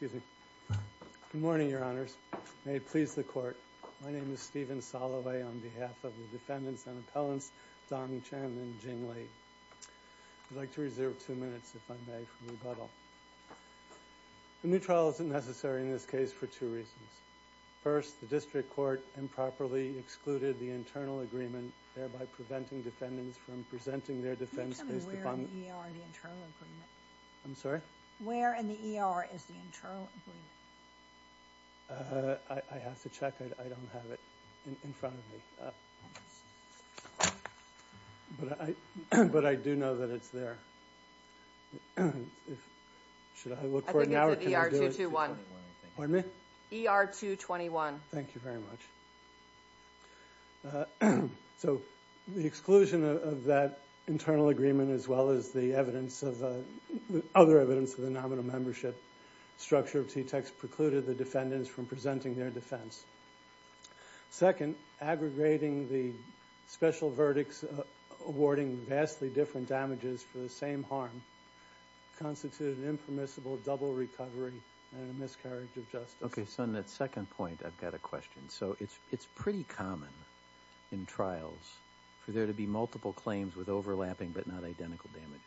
Good morning, Your Honors. May it please the Court. My name is Stephen Soloway on behalf of the Defendants and Appellants, Dong Chen and Jing Li. I'd like to reserve two minutes, if I may, for rebuttal. The new trial isn't necessary in this case for two reasons. First, the district court improperly excluded the internal agreement, thereby preventing defendants from presenting their defense case to the public. Can you tell me where in the ER is the internal agreement? I'm sorry? Where in the ER is the internal agreement? I have to check. I don't have it in front of me. But I do know that it's there. Should I look for it now? I think it's at ER 221. Pardon me? ER 221. Thank you very much. So the exclusion of that internal agreement as well as the other evidence of the nominal membership structure precluded the defendants from presenting their defense. Second, aggregating the special verdicts awarding vastly different damages for the same harm constituted an impermissible double recovery and a miscarriage of justice. Okay, so on that second point, I've got a question. So it's pretty common in trials for there to be multiple claims with overlapping but not identical damages.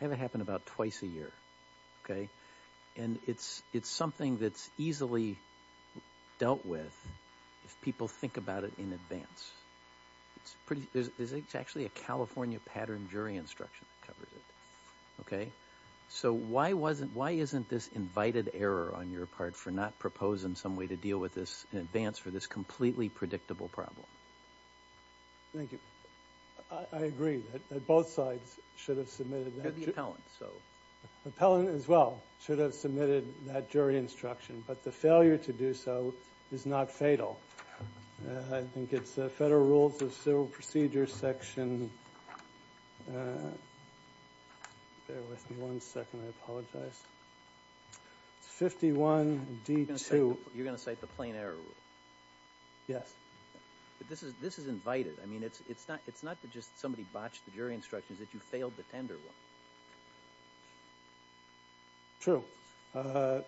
I have it happen about twice a year, okay? And it's something that's easily dealt with if people think about it in advance. There's actually a California pattern jury instruction that covers it, okay? So why isn't this invited error on your part for not proposing some way to deal with this in advance for this completely predictable problem? Thank you. I agree that both sides should have submitted that. The appellant, so. The appellant as well should have submitted that jury instruction. But the failure to do so is not fatal. I think it's Federal Rules of Civil Procedure section. Bear with me one second. I apologize. It's 51D2. You're going to cite the plain error rule? Yes. But this is invited. I mean, it's not that just somebody botched the jury instructions. It's that you failed the tender rule. True.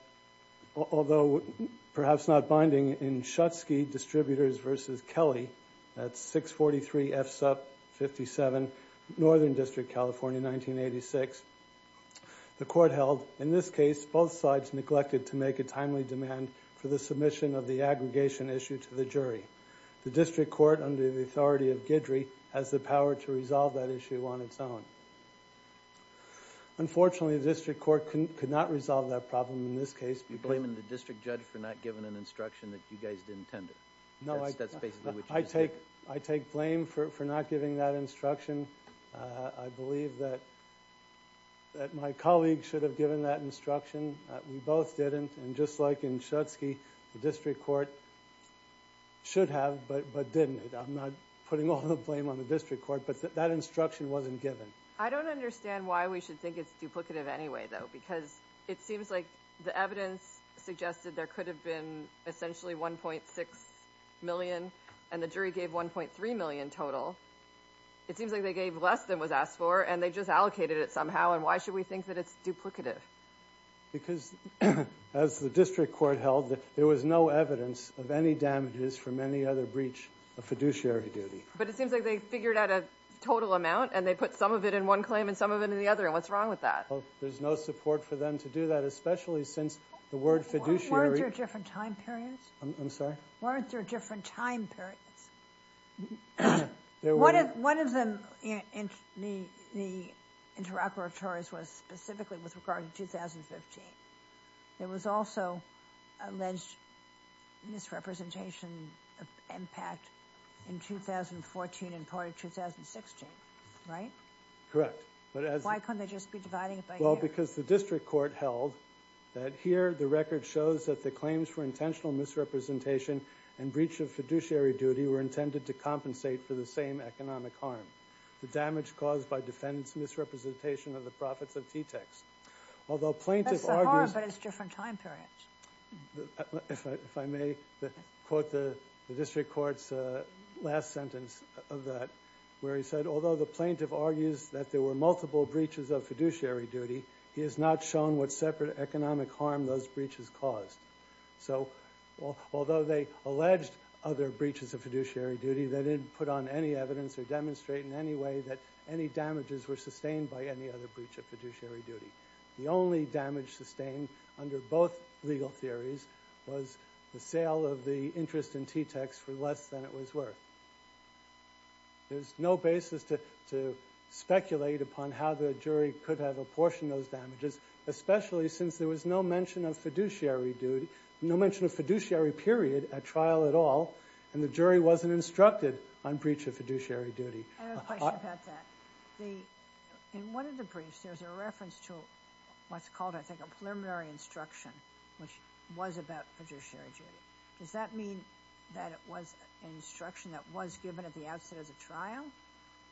Although perhaps not binding in Schutzke Distributors v. Kelly, that's 643 F. Supp. 57, Northern District, California, 1986. The court held, in this case, both sides neglected to make a timely demand for the submission of the aggregation issue to the jury. The district court under the authority of Guidry has the power to resolve that issue on its own. Unfortunately, the district court could not resolve that problem in this case. You're blaming the district judge for not giving an instruction that you guys didn't tender. That's basically what you're saying. I take blame for not giving that instruction. I believe that my colleague should have given that instruction. We both didn't. And just like in Schutzke, the district court should have but didn't. I'm not putting all the blame on the district court. But that instruction wasn't given. I don't understand why we should think it's duplicative anyway, though. Because it seems like the evidence suggested there could have been essentially 1.6 million, and the jury gave 1.3 million total. It seems like they gave less than was asked for, and they just allocated it somehow. And why should we think that it's duplicative? Because, as the district court held, there was no evidence of any damages from any other breach of fiduciary duty. But it seems like they figured out a total amount, and they put some of it in one claim and some of it in the other. And what's wrong with that? There's no support for them to do that, especially since the word fiduciary. Weren't there different time periods? I'm sorry? Weren't there different time periods? One of them in the interoperatories was specifically with regard to 2015. There was also alleged misrepresentation of impact in 2014 and part of 2016, right? Correct. Why couldn't they just be dividing it by years? Well, because the district court held that here the record shows that the claims for intentional misrepresentation and breach of fiduciary duty were intended to compensate for the same economic harm, the damage caused by defendant's misrepresentation of the profits of T-TECs. Although plaintiff argues That's the harm, but it's different time periods. If I may quote the district court's last sentence of that, where he said, Although the plaintiff argues that there were multiple breaches of fiduciary duty, he has not shown what separate economic harm those breaches caused. So although they alleged other breaches of fiduciary duty, they didn't put on any evidence or demonstrate in any way that any damages were sustained by any other breach of fiduciary duty. The only damage sustained under both legal theories was the sale of the interest in T-TECs for less than it was worth. There's no basis to speculate upon how the jury could have apportioned those damages, especially since there was no mention of fiduciary period at trial at all, and the jury wasn't instructed on breach of fiduciary duty. I have a question about that. In one of the briefs, there's a reference to what's called, I think, a preliminary instruction, which was about fiduciary duty. Does that mean that it was an instruction that was given at the outset of the trial,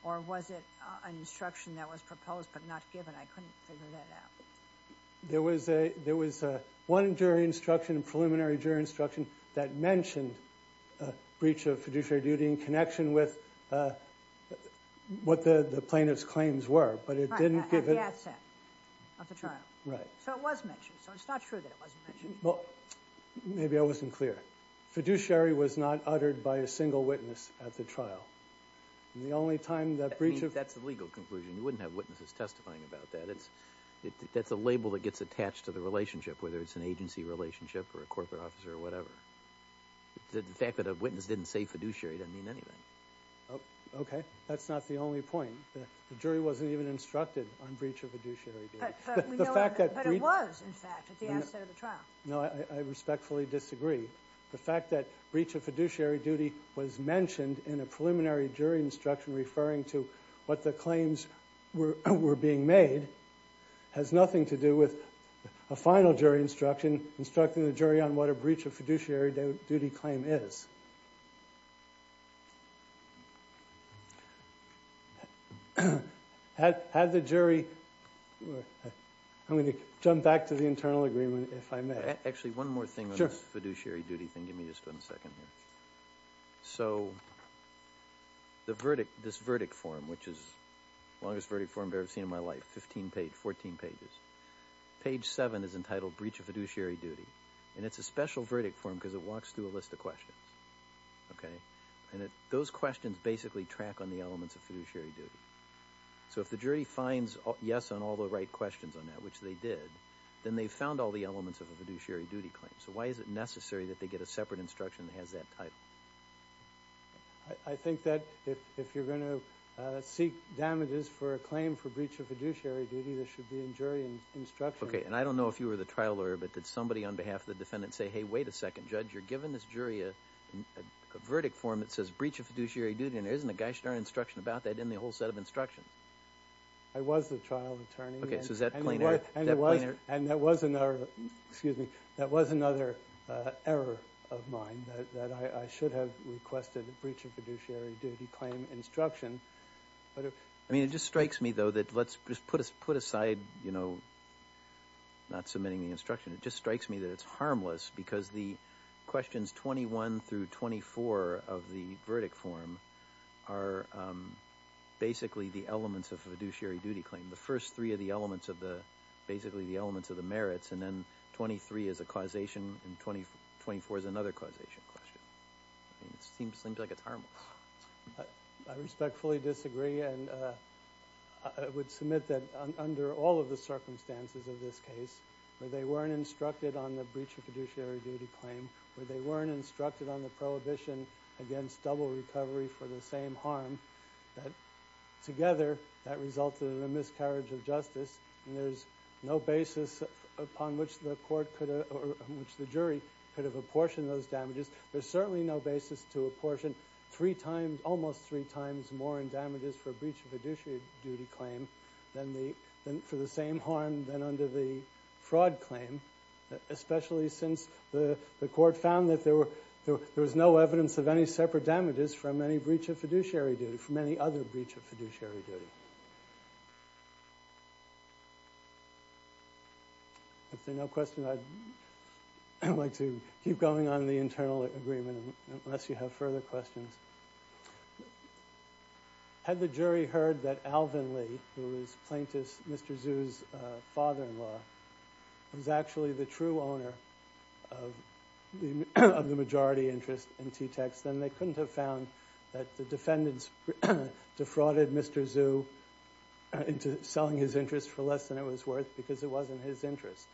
or was it an instruction that was proposed but not given? I couldn't figure that out. There was one jury instruction, a preliminary jury instruction, that mentioned breach of fiduciary duty in connection with what the plaintiff's claims were. Right, at the outset of the trial. So it was mentioned. So it's not true that it wasn't mentioned. Well, maybe I wasn't clear. Fiduciary was not uttered by a single witness at the trial. The only time that breach of- I mean, that's the legal conclusion. You wouldn't have witnesses testifying about that. That's a label that gets attached to the relationship, whether it's an agency relationship or a corporate officer or whatever. The fact that a witness didn't say fiduciary doesn't mean anything. Okay. That's not the only point. The jury wasn't even instructed on breach of fiduciary duty. But it was, in fact, at the outset of the trial. No, I respectfully disagree. The fact that breach of fiduciary duty was mentioned in a preliminary jury instruction referring to what the claims were being made has nothing to do with a final jury instruction instructing the jury on what a breach of fiduciary duty claim is. Had the jury- I'm going to jump back to the internal agreement if I may. Actually, one more thing on this fiduciary duty thing. Give me just one second here. So this verdict form, which is the longest verdict form I've ever seen in my life, 15 pages, 14 pages. Page 7 is entitled Breach of Fiduciary Duty. And it's a special verdict form because it walks through a list of questions. Okay? And those questions basically track on the elements of fiduciary duty. So if the jury finds yes on all the right questions on that, which they did, then they've found all the elements of a fiduciary duty claim. So why is it necessary that they get a separate instruction that has that title? I think that if you're going to seek damages for a claim for breach of fiduciary duty, there should be a jury instruction. Okay, and I don't know if you were the trial lawyer, but did somebody on behalf of the defendant say, Hey, wait a second, judge. You're giving this jury a verdict form that says breach of fiduciary duty, and there isn't a gosh darn instruction about that in the whole set of instructions. I was the trial attorney. Okay, so is that plain error? And that was another error of mine, that I should have requested a breach of fiduciary duty claim instruction. I mean, it just strikes me, though, that let's just put aside not submitting the instruction. It just strikes me that it's harmless because the questions 21 through 24 of the verdict form are basically the elements of a fiduciary duty claim. The first three are basically the elements of the merits, and then 23 is a causation, and 24 is another causation question. It seems like it's harmless. I respectfully disagree, and I would submit that under all of the circumstances of this case, where they weren't instructed on the breach of fiduciary duty claim, where they weren't instructed on the prohibition against double recovery for the same harm, that together that resulted in a miscarriage of justice, and there's no basis upon which the jury could have apportioned those damages. There's certainly no basis to apportion three times, almost three times more in damages for a breach of fiduciary duty claim for the same harm than under the fraud claim, especially since the court found that there was no evidence of any separate damages from any breach of fiduciary duty, from any other breach of fiduciary duty. If there are no questions, I'd like to keep going on the internal agreement, unless you have further questions. Had the jury heard that Alvin Lee, who was plaintiff Mr. Zhu's father-in-law, was actually the true owner of the majority interest in T-Tex, then they couldn't have found that the defendants defrauded Mr. Zhu into selling his interest for less than it was worth because it wasn't his interest,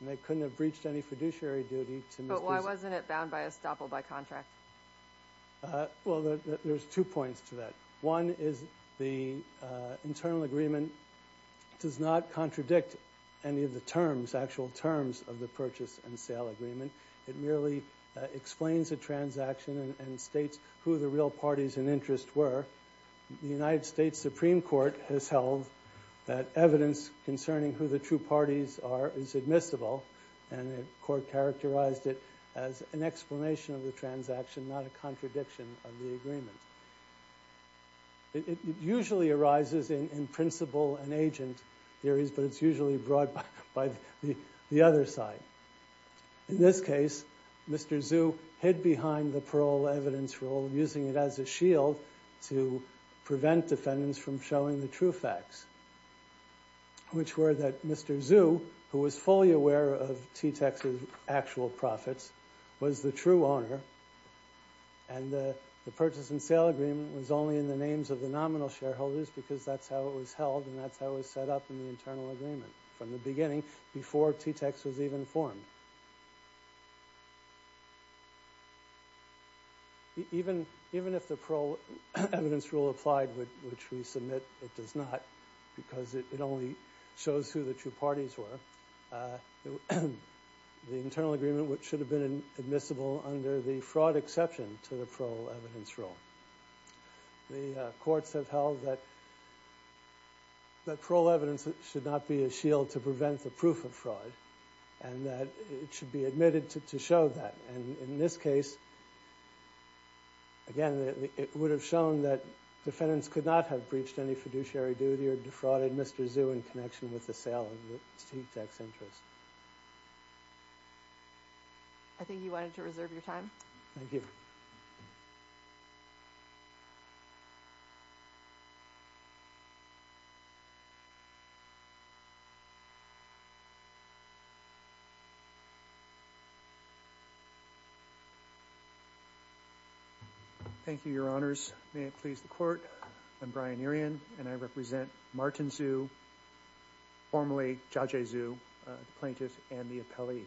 and they couldn't have breached any fiduciary duty to Mr. Zhu. Is that bound by estoppel by contract? Well, there's two points to that. One is the internal agreement does not contradict any of the terms, actual terms of the purchase and sale agreement. It merely explains a transaction and states who the real parties in interest were. The United States Supreme Court has held that evidence concerning who the true parties are is admissible, and the court characterized it as an explanation of the transaction, not a contradiction of the agreement. It usually arises in principle and agent theories, but it's usually brought by the other side. In this case, Mr. Zhu hid behind the parole evidence rule, using it as a shield to prevent defendants from showing the true facts, which were that Mr. Zhu, who was fully aware of T-Tex's actual profits, was the true owner, and the purchase and sale agreement was only in the names of the nominal shareholders because that's how it was held and that's how it was set up in the internal agreement from the beginning before T-Tex was even formed. Even if the parole evidence rule applied, which we submit it does not, because it only shows who the true parties were, the internal agreement should have been admissible under the fraud exception to the parole evidence rule. The courts have held that parole evidence should not be a shield to prevent the proof of fraud and that it should be admitted to show that. In this case, again, it would have shown that defendants could not have breached any fiduciary duty or defrauded Mr. Zhu in connection with the sale of T-Tex interest. I think you wanted to reserve your time. Thank you. Thank you, Your Honors. May it please the Court, I'm Brian Erien and I represent Martin Zhu, formerly Judge Zhu, the plaintiff and the appellee.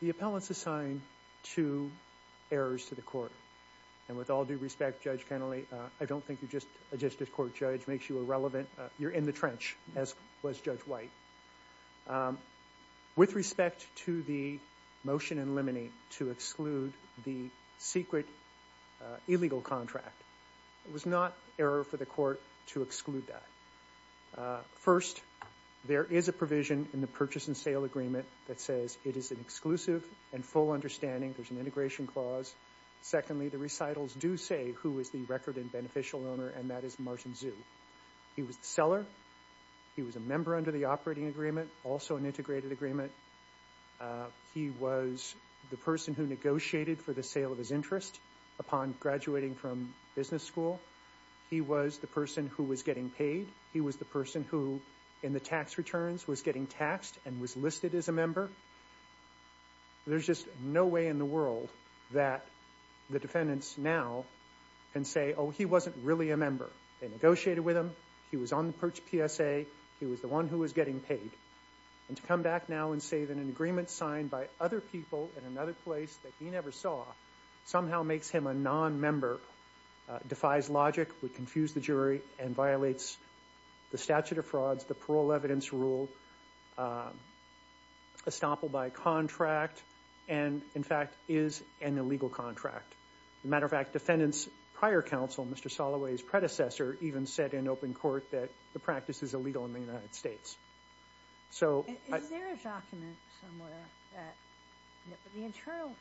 The appellants assigned two errors to the court. And with all due respect, Judge Kennelly, I don't think a justice court judge makes you irrelevant. You're in the trench, as was Judge White. With respect to the motion in limine to exclude the secret illegal contract, it was not error for the court to exclude that. First, there is a provision in the purchase and sale agreement that says it is an exclusive and full understanding. There's an integration clause. Secondly, the recitals do say who is the record and beneficial owner and that is Martin Zhu. He was the seller. He was a member under the operating agreement, also an integrated agreement. He was the person who negotiated for the sale of his interest upon graduating from business school. He was the person who was getting paid. He was the person who, in the tax returns, was getting taxed and was listed as a member. There's just no way in the world that the defendants now can say, oh, he wasn't really a member. They negotiated with him. He was on the PSA. He was the one who was getting paid. And to come back now and say that an agreement signed by other people in another place that he never saw somehow makes him a nonmember, defies logic, would confuse the jury, and violates the statute of frauds, the parole evidence rule, estoppel by contract, and, in fact, is an illegal contract. As a matter of fact, defendants prior counsel, Mr. Soloway's predecessor, even said in open court that the practice is illegal in the United States. Is there a document somewhere that the internal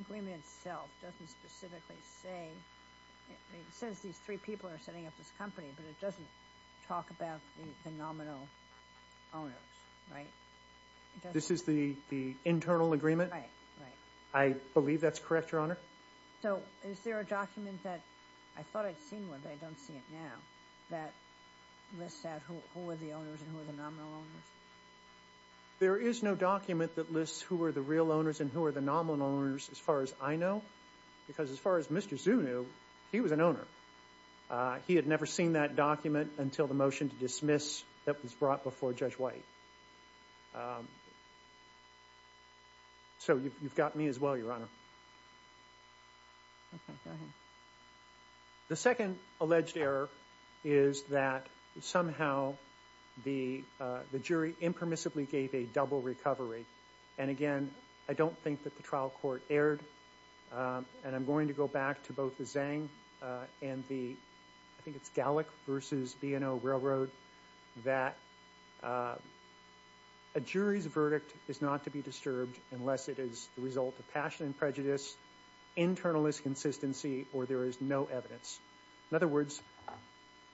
agreement itself doesn't specifically say – it says these three people are setting up this company, but it doesn't talk about the nominal owners, right? This is the internal agreement? Right, right. I believe that's correct, Your Honor. So is there a document that – I thought I'd seen one, but I don't see it now – that lists out who are the owners and who are the nominal owners. There is no document that lists who are the real owners and who are the nominal owners as far as I know, because as far as Mr. Zhu knew, he was an owner. He had never seen that document until the motion to dismiss that was brought before Judge White. So you've got me as well, Your Honor. Okay, go ahead. The second alleged error is that somehow the jury impermissibly gave a double recovery. And again, I don't think that the trial court erred, and I'm going to go back to both the Zhang and the – I think it's Gallick v. B&O Railroad – that a jury's verdict is not to be disturbed unless it is the result of passion and prejudice, internal disconsistency, or there is no evidence. In other words,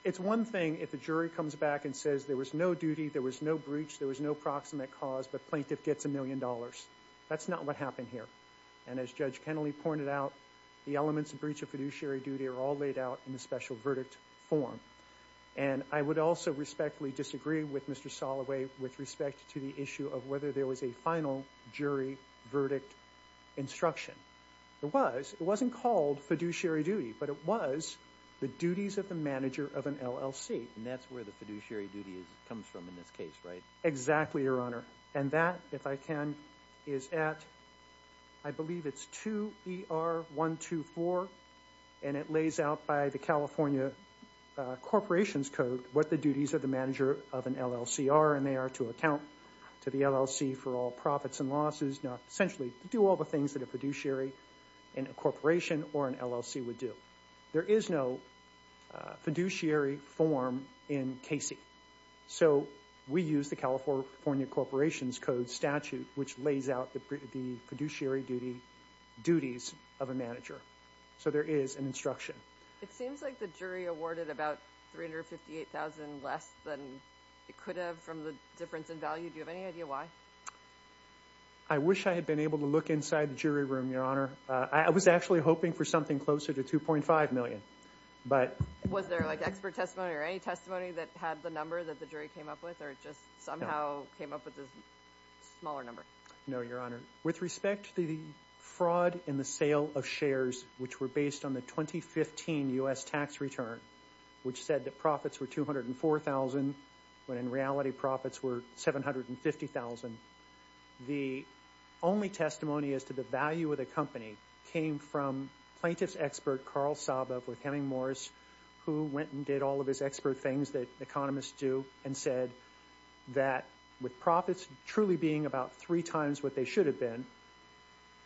it's one thing if the jury comes back and says there was no duty, there was no breach, there was no proximate cause, but plaintiff gets a million dollars. That's not what happened here. And as Judge Kennelly pointed out, the elements of breach of fiduciary duty are all laid out in the special verdict form. And I would also respectfully disagree with Mr. Soloway with respect to the issue of whether there was a final jury verdict instruction. There was. It wasn't called fiduciary duty, but it was the duties of the manager of an LLC. And that's where the fiduciary duty comes from in this case, right? Exactly, Your Honor. And that, if I can, is at – I believe it's 2ER124, and it lays out by the California Corporations Code what the duties of the manager of an LLC are, and they are to account to the LLC for all profits and losses, essentially to do all the things that a fiduciary in a corporation or an LLC would do. There is no fiduciary form in Casey. So we use the California Corporations Code statute, which lays out the fiduciary duties of a manager. So there is an instruction. It seems like the jury awarded about $358,000 less than it could have from the difference in value. Do you have any idea why? I wish I had been able to look inside the jury room, Your Honor. I was actually hoping for something closer to $2.5 million. Was there like expert testimony or any testimony that had the number that the jury came up with or just somehow came up with a smaller number? No, Your Honor. With respect to the fraud in the sale of shares, which were based on the 2015 U.S. tax return, which said that profits were $204,000 when in reality profits were $750,000, the only testimony as to the value of the company came from plaintiff's expert Carl Saba with Heming Morris, who went and did all of his expert things that economists do and said that with profits truly being about three times what they should have been,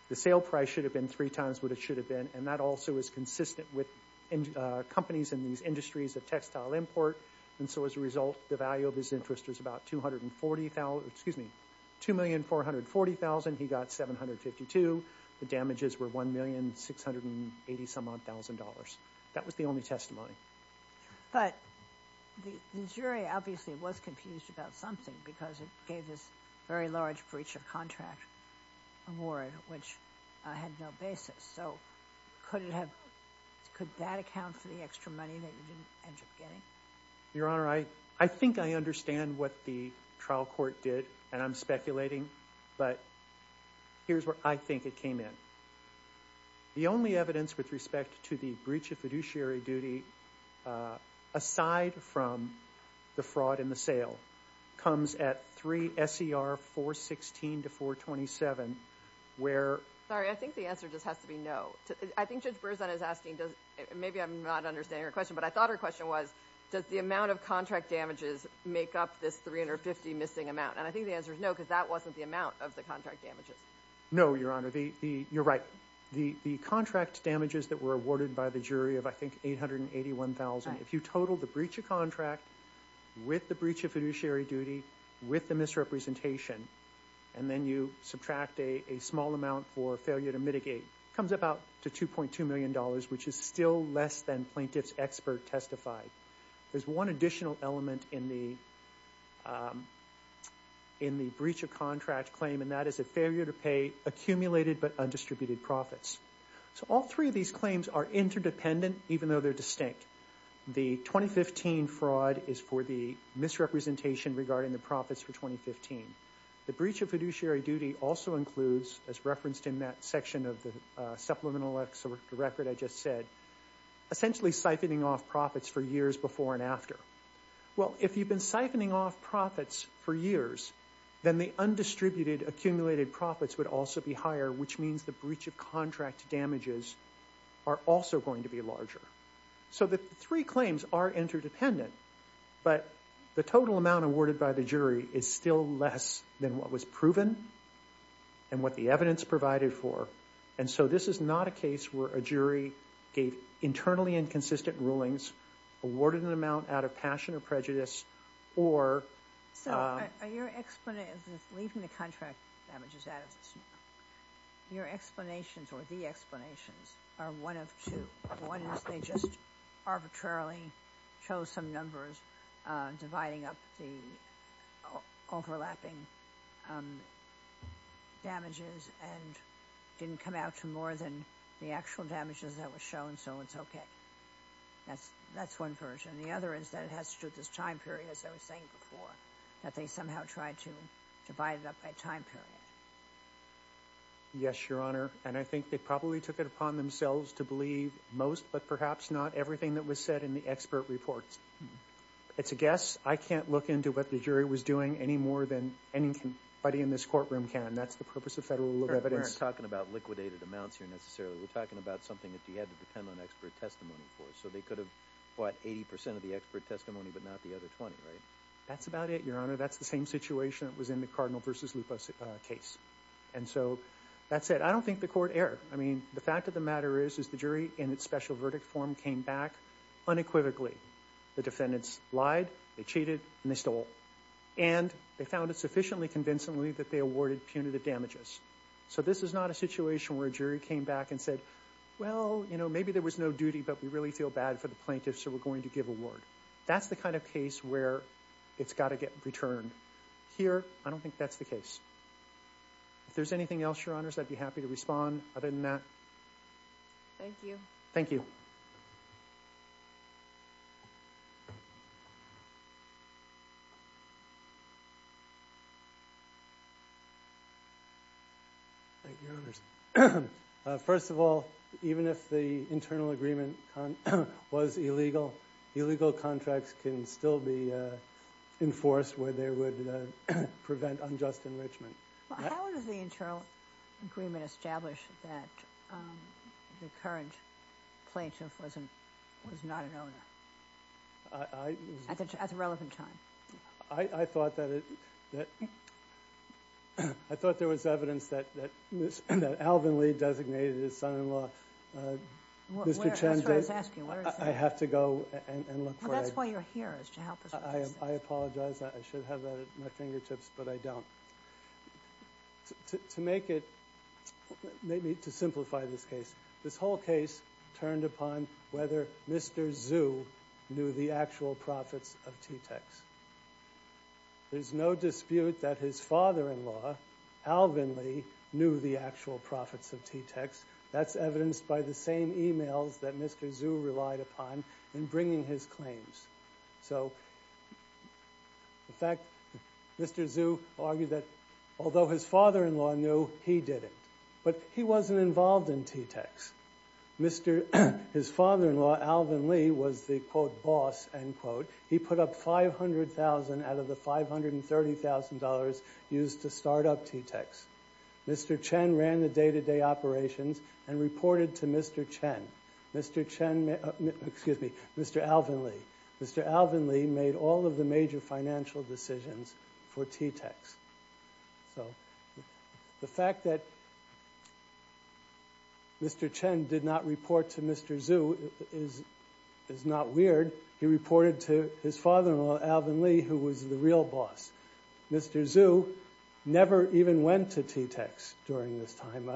the sale price should have been three times what it should have been. And that also is consistent with companies in these industries of textile import. And so as a result, the value of his interest was about $2,440,000. He got $752,000. The damages were $1,680,000. That was the only testimony. But the jury obviously was confused about something because it gave this very large breach of contract award, which had no basis. So could that account for the extra money that you didn't end up getting? Your Honor, I think I understand what the trial court did, and I'm speculating, but here's where I think it came in. The only evidence with respect to the breach of fiduciary duty, aside from the fraud in the sale, comes at 3 S.E.R. 416 to 427, where— Sorry, I think the answer just has to be no. I think Judge Berzahn is asking, maybe I'm not understanding her question, but I thought her question was, does the amount of contract damages make up this $350,000 missing amount? And I think the answer is no because that wasn't the amount of the contract damages. No, Your Honor. You're right. The contract damages that were awarded by the jury of, I think, $881,000, if you total the breach of contract with the breach of fiduciary duty, with the misrepresentation, and then you subtract a small amount for failure to mitigate, it comes up out to $2.2 million, which is still less than plaintiff's expert testified. There's one additional element in the breach of contract claim, and that is a failure to pay accumulated but undistributed profits. So all three of these claims are interdependent, even though they're distinct. The 2015 fraud is for the misrepresentation regarding the profits for 2015. The breach of fiduciary duty also includes, as referenced in that section of the supplemental record I just said, essentially siphoning off profits for years before and after. Well, if you've been siphoning off profits for years, then the undistributed accumulated profits would also be higher, which means the breach of contract damages are also going to be larger. So the three claims are interdependent, but the total amount awarded by the jury is still less than what was proven and what the evidence provided for, and so this is not a case where a jury gave internally inconsistent rulings, awarded an amount out of passion or prejudice, or— So are your—leaving the contract damages out of this, your explanations or the explanations are one of two. One is they just arbitrarily chose some numbers dividing up the overlapping damages and didn't come out to more than the actual damages that were shown, so it's okay. That's one version. The other is that it has to do with this time period, as I was saying before, that they somehow tried to divide it up by time period. Yes, Your Honor, and I think they probably took it upon themselves to believe most, but perhaps not everything that was said in the expert reports. It's a guess. I can't look into what the jury was doing any more than anybody in this courtroom can. That's the purpose of federal evidence. We're not talking about liquidated amounts here necessarily. We're talking about something that you had to depend on expert testimony for, so they could have bought 80 percent of the expert testimony but not the other 20, right? That's about it, Your Honor. That's the same situation that was in the Cardinal v. Lupo case, and so that's it. I don't think the court erred. I mean, the fact of the matter is the jury in its special verdict form came back unequivocally. The defendants lied, they cheated, and they stole, and they found it sufficiently convincingly that they awarded punitive damages, so this is not a situation where a jury came back and said, well, you know, maybe there was no duty, but we really feel bad for the plaintiffs, so we're going to give award. That's the kind of case where it's got to get returned. Here, I don't think that's the case. If there's anything else, Your Honors, I'd be happy to respond. Other than that. Thank you. Thank you. Thank you, Your Honors. First of all, even if the internal agreement was illegal, illegal contracts can still be enforced where they would prevent unjust enrichment. How does the internal agreement establish that the current plaintiff was not an owner at the relevant time? I thought there was evidence that Alvin Lee designated his son-in-law Mr. Chen. That's what I was asking. I have to go and look for it. Well, that's why you're here is to help us with this. I apologize. I should have that at my fingertips, but I don't. To make it, maybe to simplify this case, this whole case turned upon whether Mr. Zhu knew the actual profits of T-Tex. There's no dispute that his father-in-law, Alvin Lee, knew the actual profits of T-Tex. That's evidenced by the same e-mails that Mr. Zhu relied upon in bringing his claims. So, in fact, Mr. Zhu argued that although his father-in-law knew, he didn't. But he wasn't involved in T-Tex. His father-in-law, Alvin Lee, was the, quote, boss, end quote. He put up $500,000 out of the $530,000 used to start up T-Tex. Mr. Chen ran the day-to-day operations and reported to Mr. Chen. Mr. Chen, excuse me, Mr. Alvin Lee. Mr. Alvin Lee made all of the major financial decisions for T-Tex. So the fact that Mr. Chen did not report to Mr. Zhu is not weird. He reported to his father-in-law, Alvin Lee, who was the real boss. Mr. Zhu never even went to T-Tex during this time,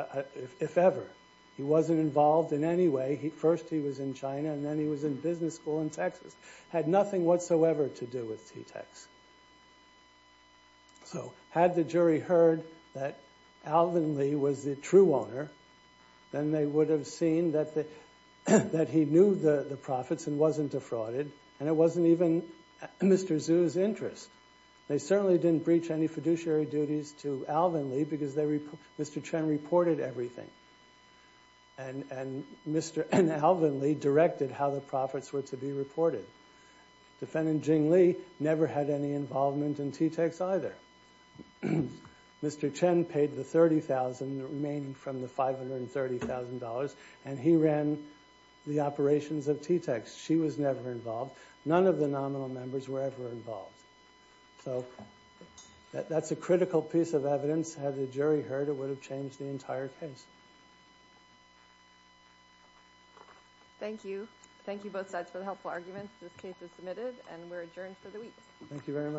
if ever. He wasn't involved in any way. First he was in China, and then he was in business school in Texas. Had nothing whatsoever to do with T-Tex. So had the jury heard that Alvin Lee was the true owner, then they would have seen that he knew the profits and wasn't defrauded, and it wasn't even Mr. Zhu's interest. They certainly didn't breach any fiduciary duties to Alvin Lee because Mr. Chen reported everything, and Alvin Lee directed how the profits were to be reported. Defendant Jing Li never had any involvement in T-Tex either. Mr. Chen paid the $30,000, the remaining from the $530,000, and he ran the operations of T-Tex. She was never involved. None of the nominal members were ever involved. So that's a critical piece of evidence. Had the jury heard, it would have changed the entire case. Thank you. Thank you both sides for the helpful arguments. This case is submitted, and we're adjourned for the week. Thank you very much.